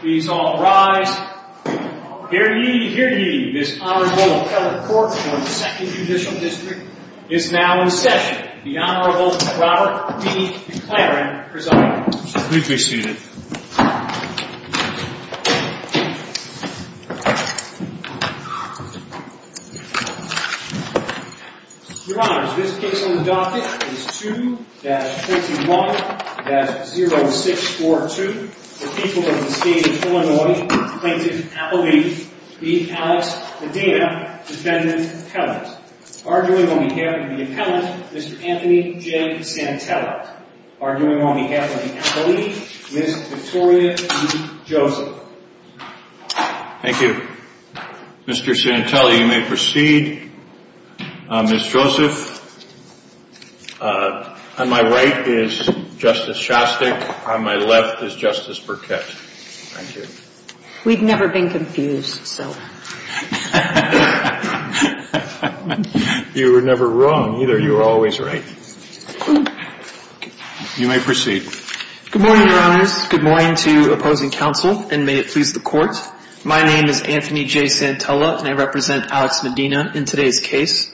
Please all rise. Hear ye, hear ye. This Honorable Appellate Court of the Second Judicial District is now in session. The Honorable Robert E. McLaren presiding. Please be seated. Your Honors, this case on the docket is 2-21-0642. The people of the State of Illinois plaintiff appellee v. Alex Medina, defendant appellant. Arguing on behalf of the appellant, Mr. Anthony J. Santelli. Arguing on behalf of the appellee, Ms. Victoria E. Joseph. Thank you. Mr. Santelli, you may proceed. Ms. Joseph, on my right is Justice Shostak. On my left is Justice Burkett. Thank you. We've never been confused, so. You were never wrong, either. You were always right. You may proceed. Good morning, Your Honors. Good morning to opposing counsel, and may it please the Court. My name is Anthony J. Santelli, and I represent Alex Medina in today's case.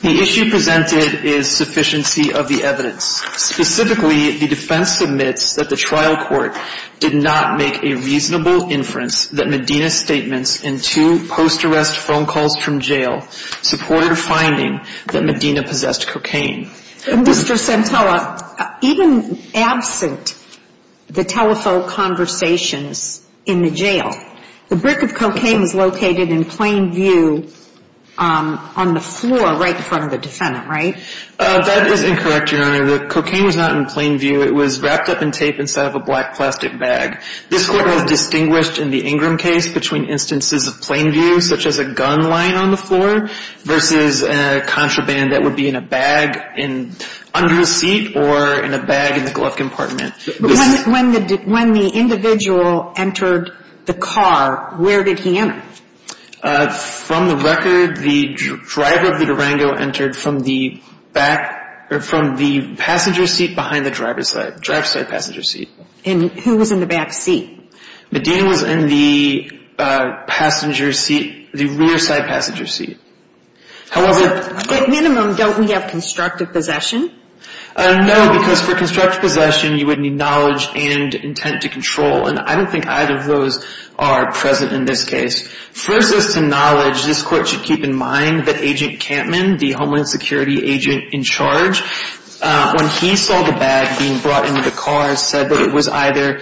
The issue presented is sufficiency of the evidence. Specifically, the defense admits that the trial court did not make a reasonable inference that Medina's statements in two post-arrest phone calls from jail supported a finding that Medina possessed cocaine. Mr. Santelli, even absent the telephone conversations in the jail, the brick of cocaine was located in plain view on the floor right in front of the defendant, right? That is incorrect, Your Honor. The cocaine was not in plain view. It was wrapped up in tape instead of a black plastic bag. This Court has distinguished in the Ingram case between instances of plain view, such as a gun lying on the floor, versus contraband that would be in a bag under a seat or in a bag in the glove compartment. When the individual entered the car, where did he enter? From the record, the driver of the Durango entered from the passenger seat behind the driver's side passenger seat. And who was in the back seat? Medina was in the rear side passenger seat. How was it? At minimum, don't we have constructive possession? No, because for constructive possession, you would need knowledge and intent to control. And I don't think either of those are present in this case. First, as to knowledge, this Court should keep in mind that Agent Campman, the Homeland Security agent in charge, when he saw the bag being brought into the car, said that it was either,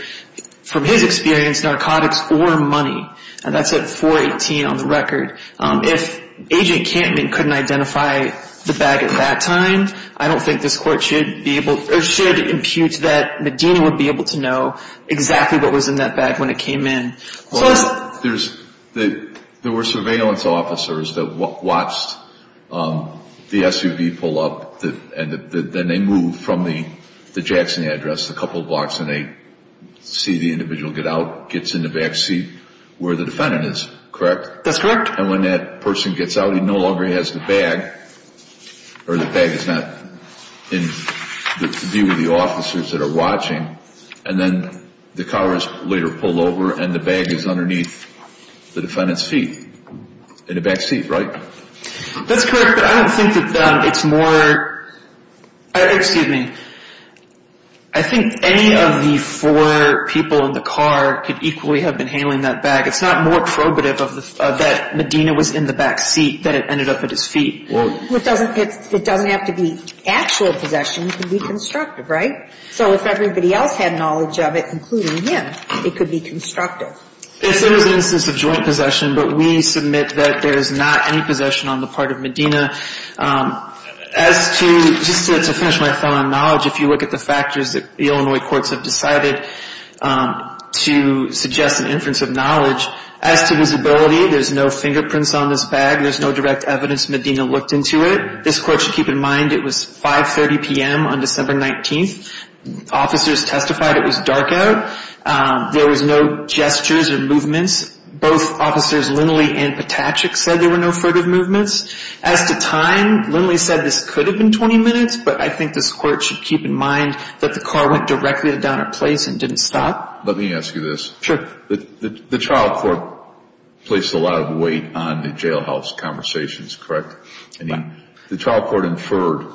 from his experience, narcotics or money. And that's at 418 on the record. If Agent Campman couldn't identify the bag at that time, I don't think this Court should be able, or should impute that Medina would be able to know exactly what was in that bag when it came in. There were surveillance officers that watched the SUV pull up, and then they moved from the Jackson address a couple blocks, and they see the individual get out, gets in the back seat where the defendant is, correct? That's correct. And when that person gets out, he no longer has the bag, or the bag is not in view of the officers that are watching. And then the car is later pulled over, and the bag is underneath the defendant's feet, in the back seat, right? That's correct, but I don't think that it's more, excuse me, I think any of the four people in the car could equally have been handling that bag. It's not more probative that Medina was in the back seat than it ended up at his feet. Well, it doesn't have to be actual possession. It can be constructive, right? So if everybody else had knowledge of it, including him, it could be constructive. If there was an instance of joint possession, but we submit that there is not any possession on the part of Medina, as to, just to finish my thought on knowledge, if you look at the factors that the Illinois courts have decided to suggest an inference of knowledge, as to visibility, there's no fingerprints on this bag. There's no direct evidence Medina looked into it. This court should keep in mind it was 5.30 p.m. on December 19th. Officers testified it was dark out. There was no gestures or movements. Both officers, Linley and Patachick, said there were no furtive movements. As to time, Linley said this could have been 20 minutes, but I think this court should keep in mind that the car went directly to Donner Place and didn't stop. Let me ask you this. Sure. The trial court placed a lot of weight on the jailhouse conversations, correct? Right. The trial court inferred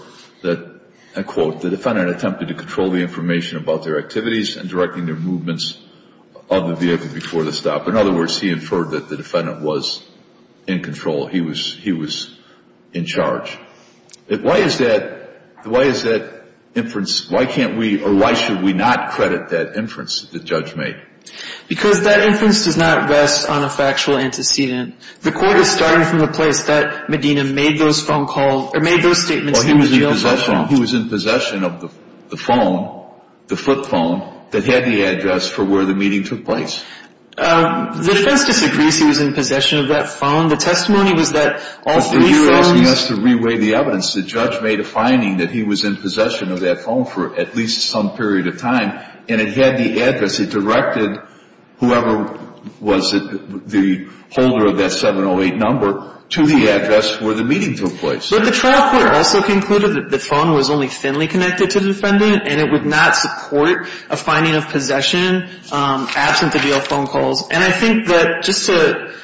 that, and I quote, the defendant attempted to control the information about their activities and directing their movements of the vehicle before the stop. In other words, he inferred that the defendant was in control. He was in charge. Why is that inference, why can't we, or why should we not credit that inference that the judge made? Because that inference does not rest on a factual antecedent. The court was starting from the place that Medina made those phone calls, or made those statements in the jailhouse. Well, he was in possession of the phone, the flip phone, that had the address for where the meeting took place. The defense disagrees he was in possession of that phone. The testimony was that all three phones. But you're asking us to re-weigh the evidence. The judge made a finding that he was in possession of that phone for at least some period of time, and it had the address. It directed whoever was the holder of that 708 number to the address where the meetings took place. But the trial court also concluded that the phone was only thinly connected to the defendant, and it would not support a finding of possession absent the jail phone calls. And I think that just to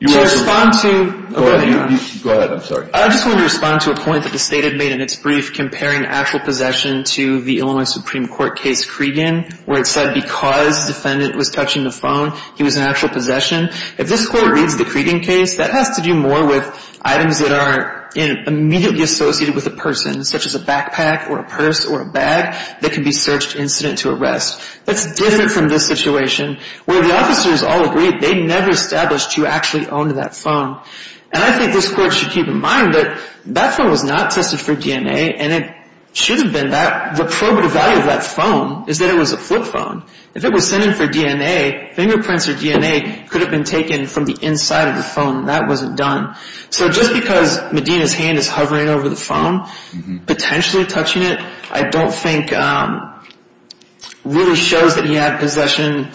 respond to — Go ahead. I'm sorry. I just wanted to respond to a point that the State had made in its brief comparing actual possession to the Illinois Supreme Court case Cregan, where it said because the defendant was touching the phone, he was in actual possession. If this court reads the Cregan case, that has to do more with items that are immediately associated with a person, such as a backpack or a purse or a bag, that can be searched incident to arrest. That's different from this situation where the officers all agreed they never established who actually owned that phone. And I think this court should keep in mind that that phone was not tested for DNA, and it should have been. The probative value of that phone is that it was a flip phone. If it was sent in for DNA, fingerprints or DNA could have been taken from the inside of the phone. That wasn't done. So just because Medina's hand is hovering over the phone, potentially touching it, I don't think really shows that he had possession,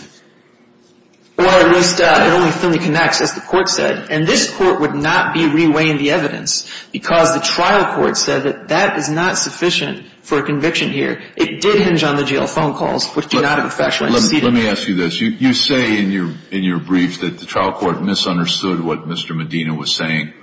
or at least it only thinly connects, as the court said. And this court would not be reweighing the evidence because the trial court said that that is not sufficient for a conviction here. It did hinge on the jail phone calls, which do not have a factual antecedent. Let me ask you this. You say in your brief that the trial court misunderstood what Mr. Medina was saying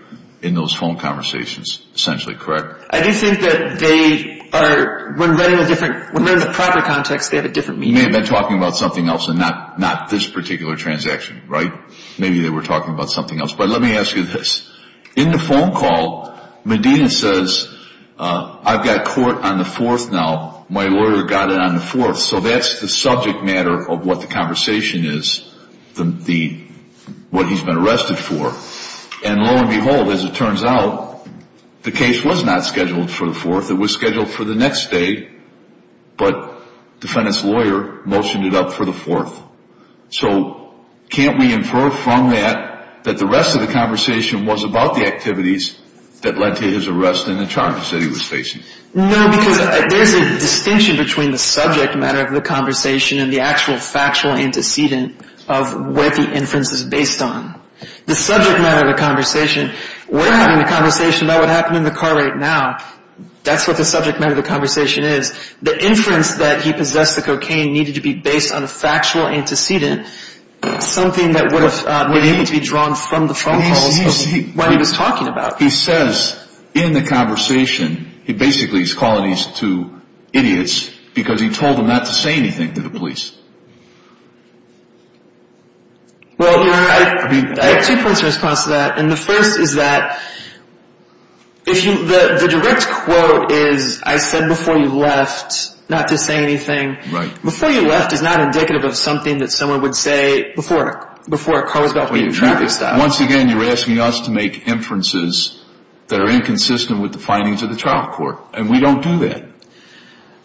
in those phone conversations, essentially, correct? I do think that they are, when read in a different, when read in the proper context, they have a different meaning. They may have been talking about something else and not this particular transaction, right? Maybe they were talking about something else. But let me ask you this. In the phone call, Medina says, I've got court on the 4th now. My lawyer got it on the 4th. So that's the subject matter of what the conversation is, what he's been arrested for. And lo and behold, as it turns out, the case was not scheduled for the 4th. It was scheduled for the next day, but defendant's lawyer motioned it up for the 4th. So can't we infer from that that the rest of the conversation was about the activities that led to his arrest and the charges that he was facing? No, because there's a distinction between the subject matter of the conversation and the actual factual antecedent of what the inference is based on. The subject matter of the conversation, we're having the conversation about what happened in the car right now. That's what the subject matter of the conversation is. The inference that he possessed the cocaine needed to be based on a factual antecedent, something that would have been able to be drawn from the phone calls of what he was talking about. He says in the conversation, he basically is calling these two idiots because he told them not to say anything to the police. Well, Your Honor, I have two points of response to that. And the first is that the direct quote is, I said before you left not to say anything. Before you left is not indicative of something that someone would say before a car was about to be in traffic stop. Once again, you're asking us to make inferences that are inconsistent with the findings of the trial court. And we don't do that.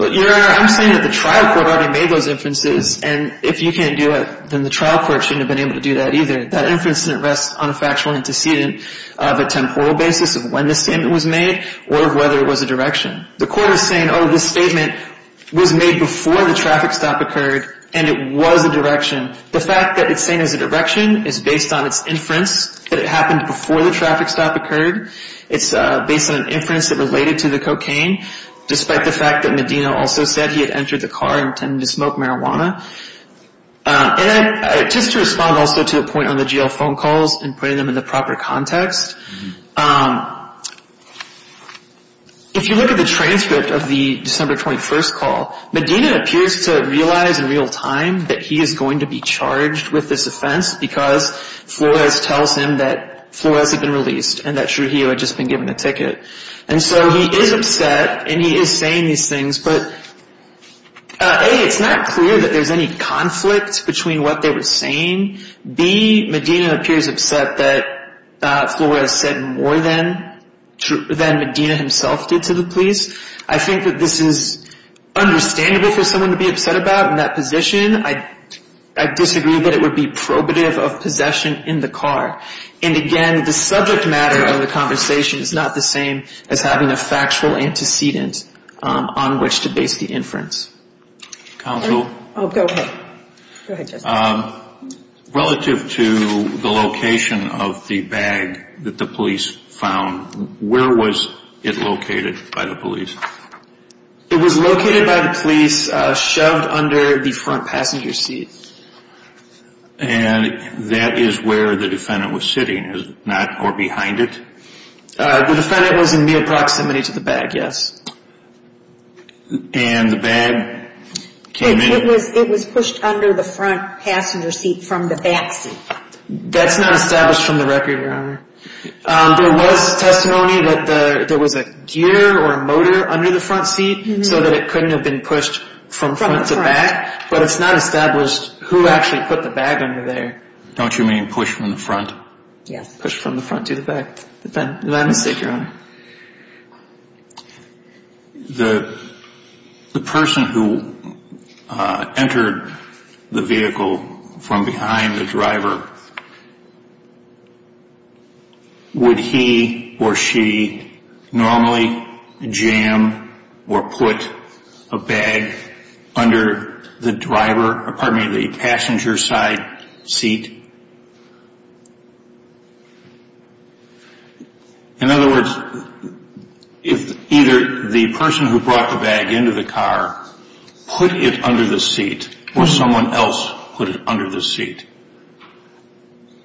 Your Honor, I'm saying that the trial court already made those inferences. And if you can't do it, then the trial court shouldn't have been able to do that either. That inference didn't rest on a factual antecedent of a temporal basis of when the statement was made or whether it was a direction. The court is saying, oh, this statement was made before the traffic stop occurred and it was a direction. The fact that it's saying it was a direction is based on its inference that it happened before the traffic stop occurred. It's based on an inference that related to the cocaine, despite the fact that Medina also said he had entered the car and tended to smoke marijuana. And just to respond also to a point on the jail phone calls and putting them in the proper context, if you look at the transcript of the December 21st call, Medina appears to realize in real time that he is going to be charged with this offense because Flores tells him that Flores had been released and that Trujillo had just been given a ticket. And so he is upset and he is saying these things. But, A, it's not clear that there's any conflict between what they were saying. B, Medina appears upset that Flores said more than Medina himself did to the police. I think that this is understandable for someone to be upset about in that position. I disagree that it would be probative of possession in the car. And, again, the subject matter of the conversation is not the same as having a factual antecedent on which to base the inference. Counsel? Oh, go ahead. Go ahead, Justice. Relative to the location of the bag that the police found, where was it located by the police? It was located by the police, shoved under the front passenger seat. And that is where the defendant was sitting, is it not, or behind it? The defendant was in near proximity to the bag, yes. And the bag came in? It was pushed under the front passenger seat from the back seat. That's not established from the record, Your Honor. There was testimony that there was a gear or a motor under the front seat so that it couldn't have been pushed from front to back. But it's not established who actually put the bag under there. Don't you mean pushed from the front? Yes. Pushed from the front to the back. Did I mistake, Your Honor? Your Honor, the person who entered the vehicle from behind the driver, would he or she normally jam or put a bag under the passenger side seat? In other words, if either the person who brought the bag into the car put it under the seat or someone else put it under the seat.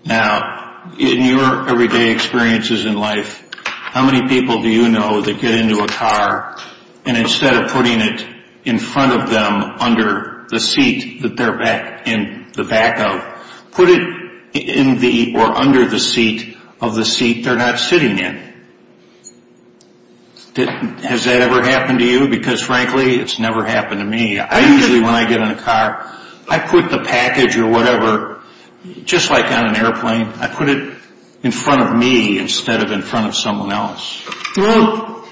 Now, in your everyday experiences in life, how many people do you know that get into a car and instead of putting it in front of them under the seat that they're in the back of, put it in the or under the seat of the seat they're not sitting in? Has that ever happened to you? Because frankly, it's never happened to me. Usually when I get in a car, I put the package or whatever, just like on an airplane, I put it in front of me instead of in front of someone else. Well,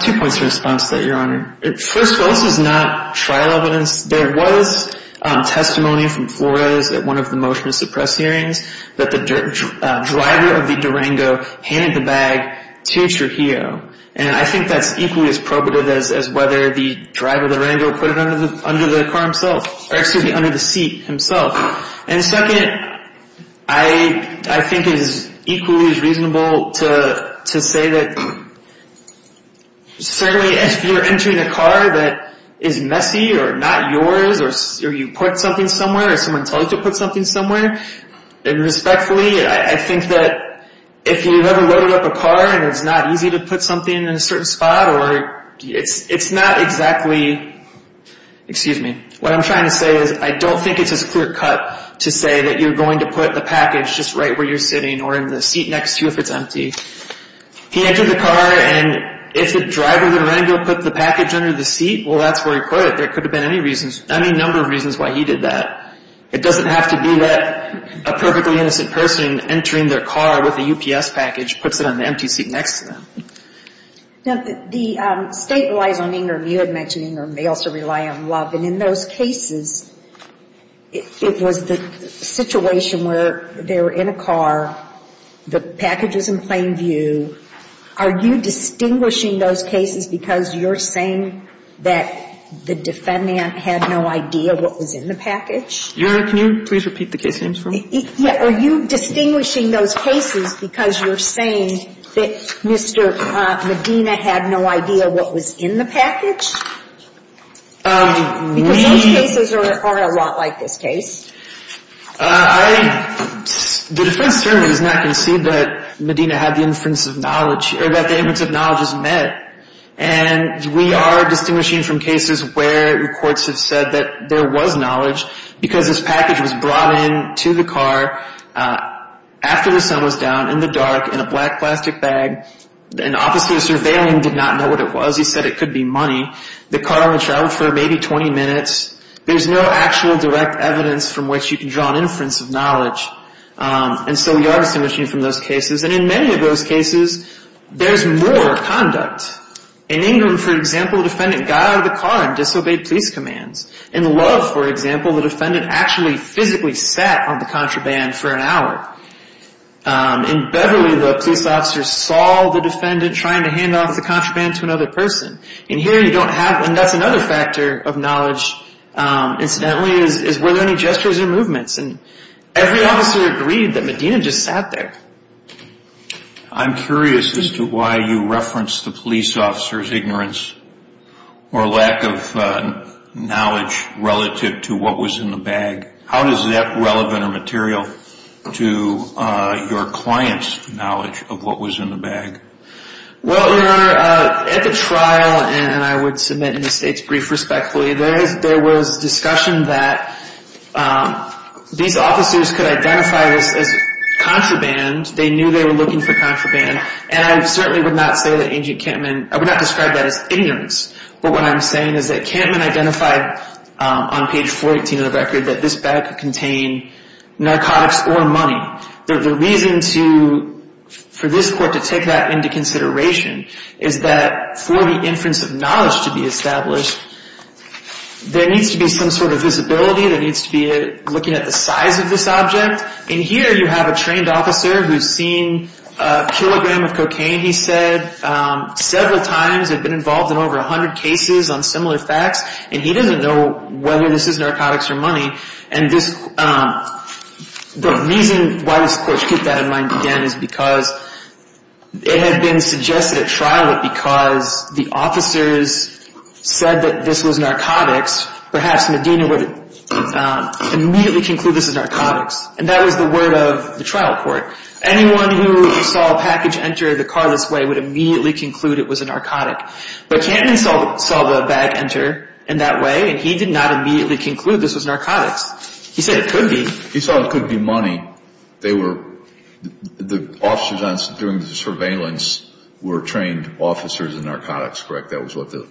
two points of response to that, Your Honor. First of all, this is not trial evidence. There was testimony from Flores at one of the motion to suppress hearings that the driver of the Durango handed the bag to Trujillo. And I think that's equally as probative as whether the driver of the Durango put it under the car himself, or excuse me, under the seat himself. And second, I think it is equally as reasonable to say that, certainly if you're entering a car that is messy or not yours or you put something somewhere or someone tells you to put something somewhere, and respectfully, I think that if you've ever loaded up a car and it's not easy to put something in a certain spot or it's not exactly, excuse me, what I'm trying to say is I don't think it's as clear cut to say that you're going to put the package just right where you're sitting or in the seat next to you if it's empty. He entered the car, and if the driver of the Durango put the package under the seat, well, that's where he put it. There could have been any number of reasons why he did that. It doesn't have to be that a perfectly innocent person entering their car with a UPS package puts it on the empty seat next to them. Now, the State relies on anger. You had mentioned anger. They also rely on love. And in those cases, it was the situation where they were in a car, the package was in plain view. Are you distinguishing those cases because you're saying that the defendant had no idea what was in the package? Your Honor, can you please repeat the case names for me? Are you distinguishing those cases because you're saying that Mr. Medina had no idea what was in the package? Because those cases are a lot like this case. The defense attorney does not concede that Medina had the inference of knowledge or that the inference of knowledge was met. And we are distinguishing from cases where the courts have said that there was knowledge because this package was brought in to the car after the sun was down, in the dark, in a black plastic bag, and obviously the surveilling did not know what it was. He said it could be money. The car only traveled for maybe 20 minutes. There's no actual direct evidence from which you can draw an inference of knowledge. And so we are distinguishing from those cases. And in many of those cases, there's more conduct. In England, for example, the defendant got out of the car and disobeyed police commands. In Love, for example, the defendant actually physically sat on the contraband for an hour. In Beverly, the police officer saw the defendant trying to hand off the contraband to another person. And here you don't have, and that's another factor of knowledge, incidentally, is were there any gestures or movements. And every officer agreed that Medina just sat there. I'm curious as to why you referenced the police officer's ignorance or lack of knowledge relative to what was in the bag. How is that relevant or material to your client's knowledge of what was in the bag? Well, Your Honor, at the trial, and I would submit an estate's brief respectfully, there was discussion that these officers could identify this as contraband. They knew they were looking for contraband. And I certainly would not say that Agent Kampman, I would not describe that as ignorance. But what I'm saying is that Kampman identified on page 418 of the record that this bag could contain narcotics or money. The reason for this court to take that into consideration is that for the inference of knowledge to be established, there needs to be some sort of visibility. There needs to be looking at the size of this object. And here you have a trained officer who's seen a kilogram of cocaine, he said, several times and been involved in over 100 cases on similar facts. And he doesn't know whether this is narcotics or money. And the reason why this court took that in mind again is because it had been suggested at trial that because the officers said that this was narcotics, perhaps Medina would immediately conclude this is narcotics. And that was the word of the trial court. Anyone who saw a package enter the car this way would immediately conclude it was a narcotic. But Kampman saw the bag enter in that way, and he did not immediately conclude this was narcotics. He said it could be. He saw it could be money. They were the officers during the surveillance were trained officers in narcotics, correct? That was what the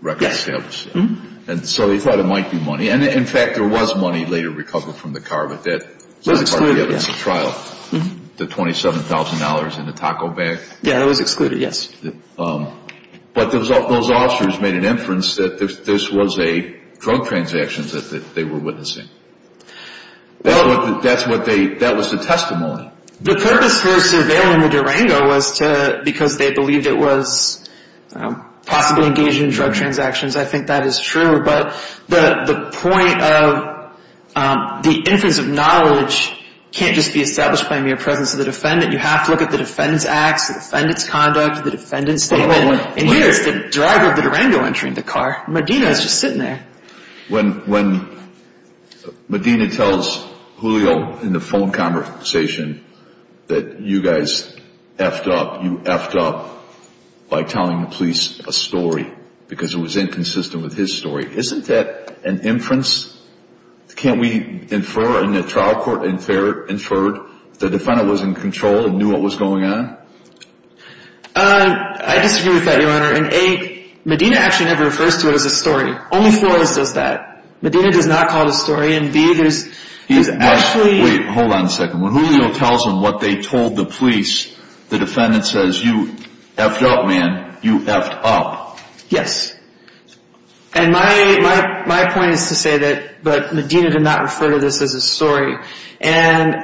record established. Yes. And so he thought it might be money. And, in fact, there was money later recovered from the car, but that was a trial. It was excluded, yes. The $27,000 in the taco bag? Yeah, that was excluded, yes. But those officers made an inference that this was a drug transaction that they were witnessing. That was the testimony. The purpose for surveilling the Durango was because they believed it was possibly engaged in drug transactions. I think that is true. But the point of the inference of knowledge can't just be established by mere presence of the defendant. You have to look at the defendant's acts, the defendant's conduct, the defendant's statement. And here is the driver of the Durango entering the car. Medina is just sitting there. When Medina tells Julio in the phone conversation that you guys F'd up, you F'd up by telling the police a story because it was inconsistent with his story, isn't that an inference? Can't we infer in the trial court, inferred the defendant was in control and knew what was going on? I disagree with that, Your Honor. And, A, Medina actually never refers to it as a story. Only Flores does that. Medina does not call it a story. And, B, there's actually... Wait, hold on a second. When Julio tells them what they told the police, the defendant says, you F'd up, man. You F'd up. Yes. And my point is to say that Medina did not refer to this as a story. And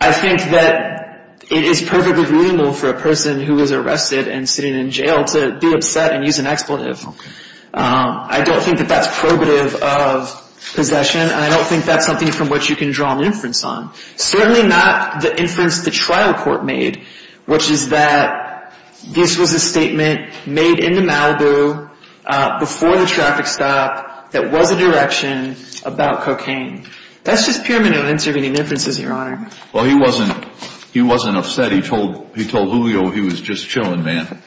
I think that it is perfectly reasonable for a person who was arrested and sitting in jail to be upset and use an expletive. Okay. I don't think that that's probative of possession, and I don't think that's something from which you can draw an inference on. Certainly not the inference the trial court made, which is that this was a statement made in the Malibu before the traffic stop that was a direction about cocaine. That's just pyramidal intervening inferences, Your Honor. Well, he wasn't upset. He told Julio he was just chilling, man.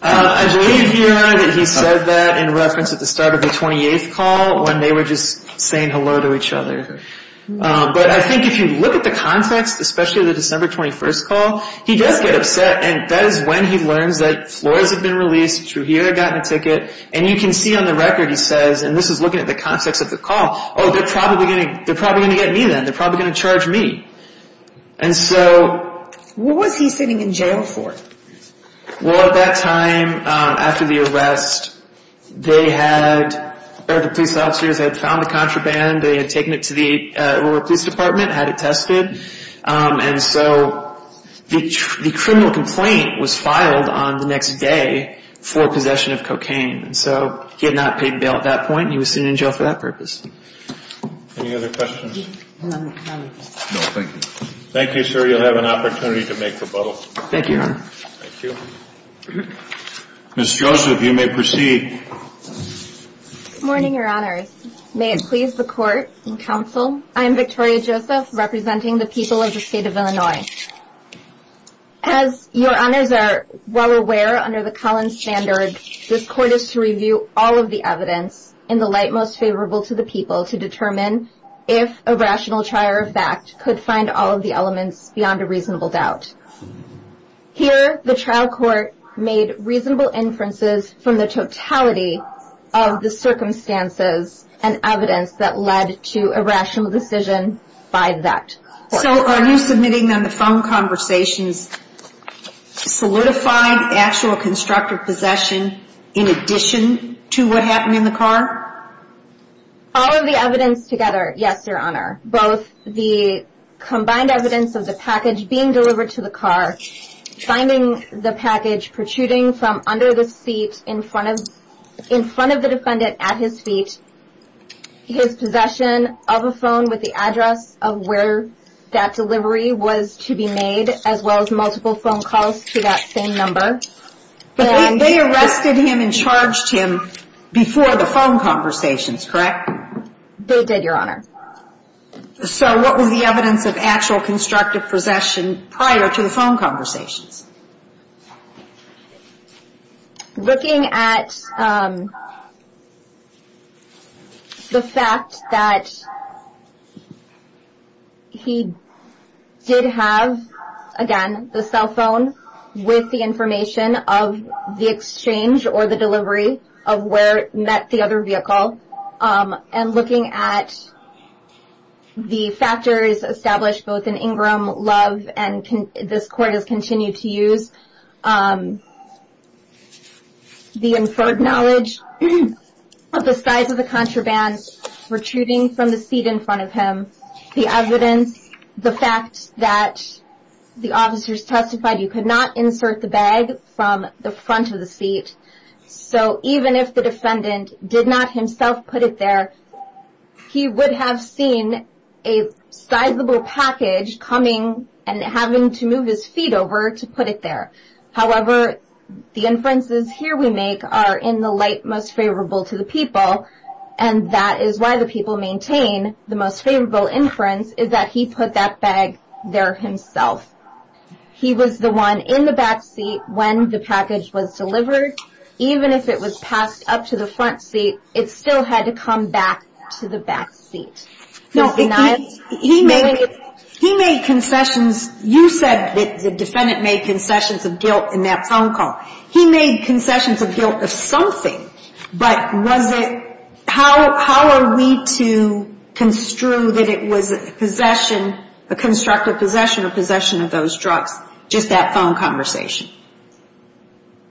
I believe, Your Honor, that he said that in reference at the start of the 28th call when they were just saying hello to each other. But I think if you look at the context, especially the December 21st call, he does get upset, and that is when he learns that floors have been released, Trujillo had gotten a ticket, and you can see on the record, he says, and this is looking at the context of the call, oh, they're probably going to get me then. They're probably going to charge me. And so what was he sitting in jail for? Well, at that time after the arrest, they had, or the police officers had found the contraband. They had taken it to the rural police department, had it tested, and so the criminal complaint was filed on the next day for possession of cocaine. So he had not paid bail at that point, and he was sitting in jail for that purpose. Any other questions? No, thank you. Thank you, sir. You'll have an opportunity to make rebuttals. Thank you, Your Honor. Thank you. Ms. Joseph, you may proceed. Good morning, Your Honors. May it please the Court and Counsel, I am Victoria Joseph, representing the people of the state of Illinois. As Your Honors are well aware, under the Collins Standard, this Court is to review all of the evidence in the light most favorable to the people to determine if a rational trial or fact could find all of the elements beyond a reasonable doubt. Here, the trial court made reasonable inferences from the totality of the circumstances and evidence that led to a rational decision by that court. So are you submitting on the phone conversations solidified actual constructive possession in addition to what happened in the car? All of the evidence together, yes, Your Honor. Both the combined evidence of the package being delivered to the car, finding the package protruding from under the seat in front of the defendant at his feet, his possession of a phone with the address of where that delivery was to be made, as well as multiple phone calls to that same number. But they arrested him and charged him before the phone conversations, correct? They did, Your Honor. So what was the evidence of actual constructive possession prior to the phone conversations? Looking at the fact that he did have, again, the cell phone with the information of the exchange or the delivery of where it met the other vehicle, and looking at the factors established both in Ingram, Love, and this court has continued to use, the inferred knowledge of the size of the contraband protruding from the seat in front of him, the evidence, the fact that the officers testified you could not insert the bag from the front of the seat. So even if the defendant did not himself put it there, he would have seen a sizable package coming and having to move his feet over to put it there. However, the inferences here we make are in the light most favorable to the people, and that is why the people maintain the most favorable inference is that he put that bag there himself. He was the one in the back seat when the package was delivered. Even if it was passed up to the front seat, it still had to come back to the back seat. He made concessions. You said that the defendant made concessions of guilt in that phone call. He made concessions of guilt of something, but how are we to construe that it was a possession, a constructive possession or possession of those drugs, just that phone conversation?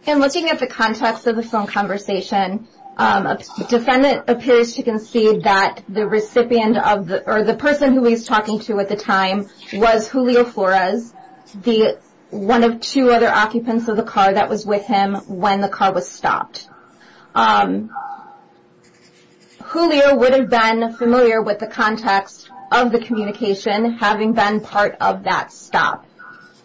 In looking at the context of the phone conversation, a defendant appears to concede that the recipient of the, or the person who he's talking to at the time, was Julio Flores, one of two other occupants of the car that was with him when the car was stopped. Julio would have been familiar with the context of the communication, having been part of that stop.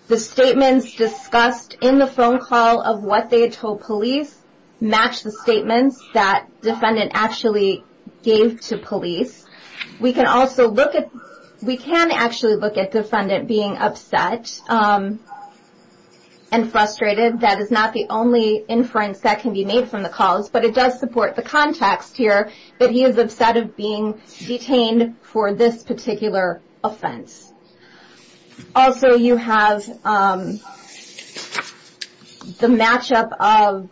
The statements discussed in the phone call of what they had told police match the statements that defendant actually gave to police. We can also look at, we can actually look at defendant being upset and frustrated. That is not the only inference that can be made from the calls, but it does support the context here that he is upset of being detained for this particular offense. Also, you have the matchup of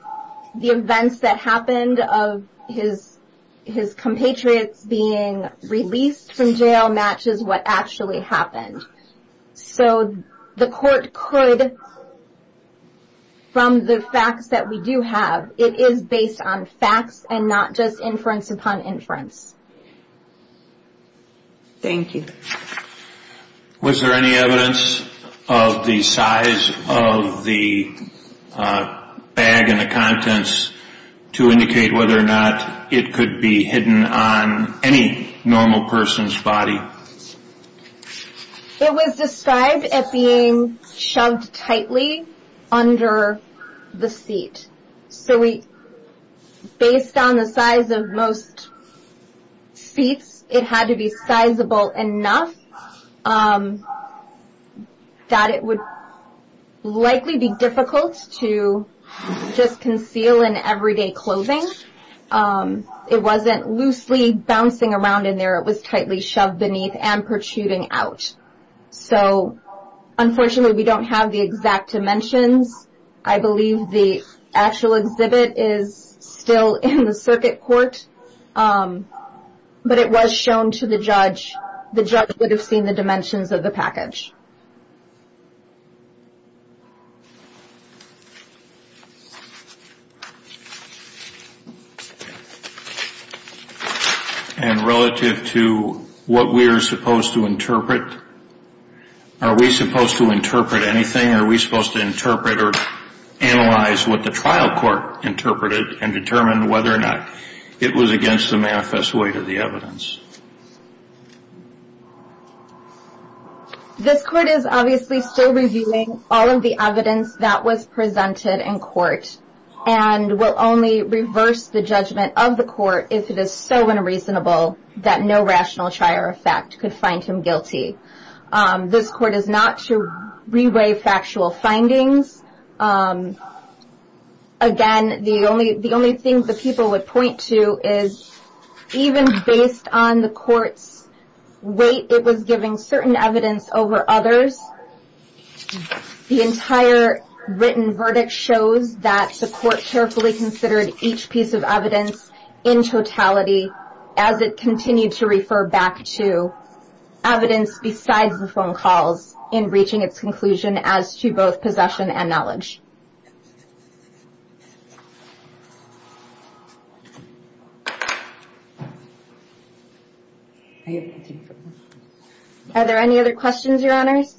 the events that happened of his compatriots being released from jail matches what actually happened. So, the court could, from the facts that we do have, it is based on facts and not just inference upon inference. Thank you. Was there any evidence of the size of the bag and the contents to indicate whether or not it could be hidden on any normal person's body? It was described as being shoved tightly under the seat. So, based on the size of most seats, it had to be sizable enough that it would likely be difficult to just conceal in everyday clothing. It wasn't loosely bouncing around in there. It was tightly shoved beneath and protruding out. So, unfortunately, we don't have the exact dimensions. I believe the actual exhibit is still in the circuit court, but it was shown to the judge. The judge would have seen the dimensions of the package. And relative to what we are supposed to interpret, are we supposed to interpret anything? Are we supposed to interpret or analyze what the trial court interpreted and determine whether or not it was against the manifest weight of the evidence? This court is obviously still reviewing all of the evidence that was presented in court and will only reverse the judgment of the court if it is so unreasonable that no rational trier of fact could find him guilty. This court is not to re-weigh factual findings. Again, the only thing the people would point to is, even based on the court's weight, it was giving certain evidence over others. The entire written verdict shows that the court carefully considered each piece of evidence in totality as it continued to refer back to evidence besides the phone calls in reaching its conclusion as to both possession and knowledge. Are there any other questions, Your Honors?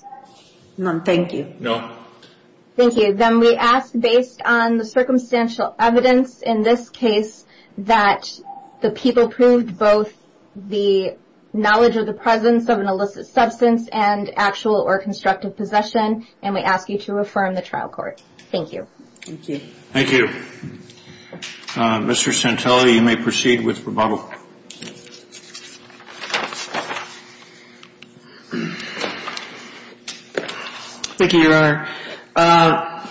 None, thank you. No. Thank you. Then we ask, based on the circumstantial evidence in this case, that the people prove both the knowledge of the presence of an illicit substance and actual or constructive possession, and we ask you to affirm the trial court. Thank you. Thank you. Thank you. Mr. Santelli, you may proceed with rebuttal. Thank you, Your Honor.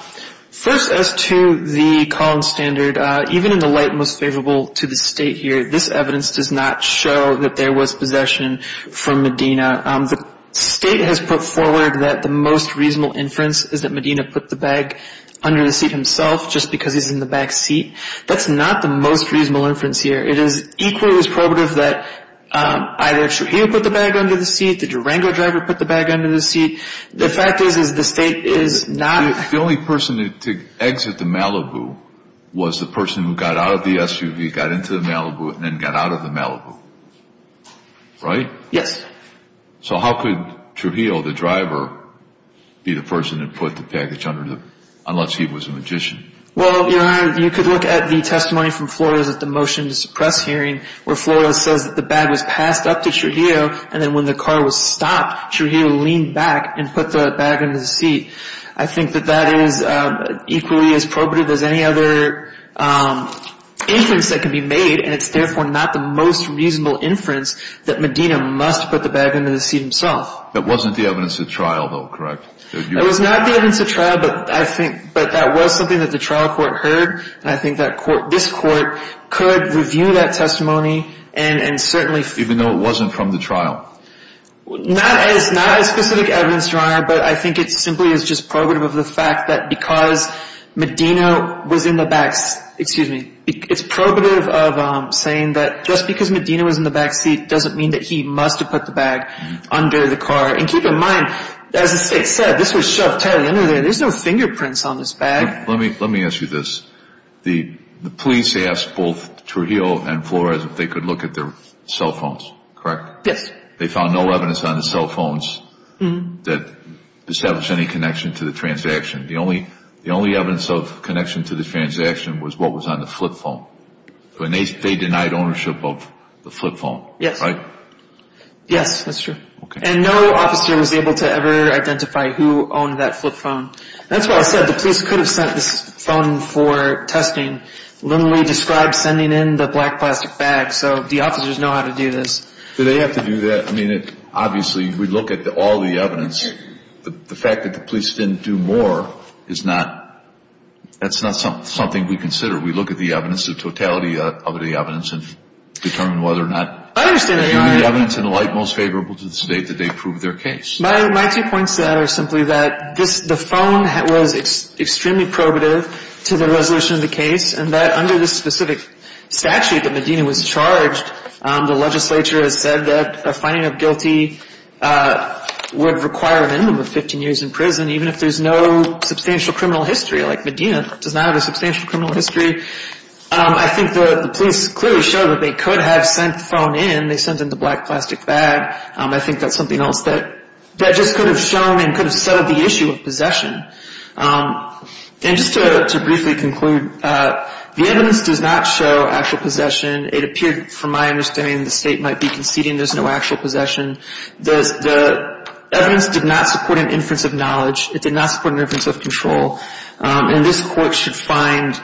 First, as to the Collins standard, even in the light most favorable to the State here, this evidence does not show that there was possession from Medina. The State has put forward that the most reasonable inference is that Medina put the bag under the seat himself just because he's in the back seat. That's not the most reasonable inference here. It is equally as probative that either Trujillo put the bag under the seat, the Durango driver put the bag under the seat. The fact is, is the State is not. The only person to exit the Malibu was the person who got out of the SUV, got into the Malibu, and then got out of the Malibu, right? Yes. So how could Trujillo, the driver, be the person that put the package under, unless he was a magician? Well, Your Honor, you could look at the testimony from Flores at the motions to press hearing, where Flores says that the bag was passed up to Trujillo, and then when the car was stopped, Trujillo leaned back and put the bag under the seat. I think that that is equally as probative as any other inference that can be made, and it's therefore not the most reasonable inference that Medina must put the bag under the seat himself. That wasn't the evidence at trial, though, correct? It was not the evidence at trial, but I think that was something that the trial court heard, and I think that this court could review that testimony and certainly Even though it wasn't from the trial? Not as specific evidence, Your Honor, but I think it simply is just probative of the fact that because Medina was in the back, excuse me, it's probative of saying that just because Medina was in the back seat doesn't mean that he must have put the bag under the car. And keep in mind, as the State said, this was shoved tightly under there. There's no fingerprints on this bag. Let me ask you this. The police asked both Trujillo and Flores if they could look at their cell phones, correct? Yes. They found no evidence on the cell phones that established any connection to the transaction. The only evidence of connection to the transaction was what was on the flip phone, and they denied ownership of the flip phone, right? Yes, that's true. And no officer was able to ever identify who owned that flip phone. That's why I said the police could have sent this phone for testing, literally described sending in the black plastic bag so the officers know how to do this. Do they have to do that? I mean, obviously, we look at all the evidence. The fact that the police didn't do more is not, that's not something we consider. We look at the evidence, the totality of the evidence and determine whether or not there's any evidence in the light most favorable to the state that they proved their case. My two points to that are simply that the phone was extremely probative to the resolution of the case, and that under the specific statute that Medina was charged, the legislature has said that a finding of guilty would require an inmate of 15 years in prison, even if there's no substantial criminal history, like Medina does not have a substantial criminal history. I think the police clearly showed that they could have sent the phone in. They sent in the black plastic bag. I think that's something else that just could have shown and could have settled the issue of possession. And just to briefly conclude, the evidence does not show actual possession. It appeared, from my understanding, the state might be conceding there's no actual possession. The evidence did not support an inference of knowledge. It did not support an inference of control. And this Court should find,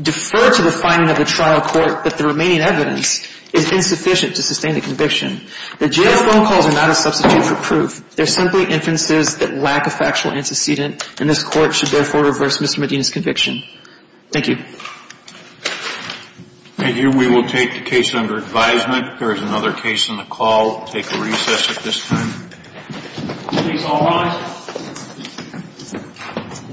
defer to the finding of the trial court that the remaining evidence is insufficient to sustain the conviction. The jail phone calls are not a substitute for proof. They're simply inferences that lack a factual antecedent, and this Court should therefore reverse Mr. Medina's conviction. Thank you. Thank you. We will take the case under advisement. If there is another case on the call, we'll take a recess at this time. Please all rise.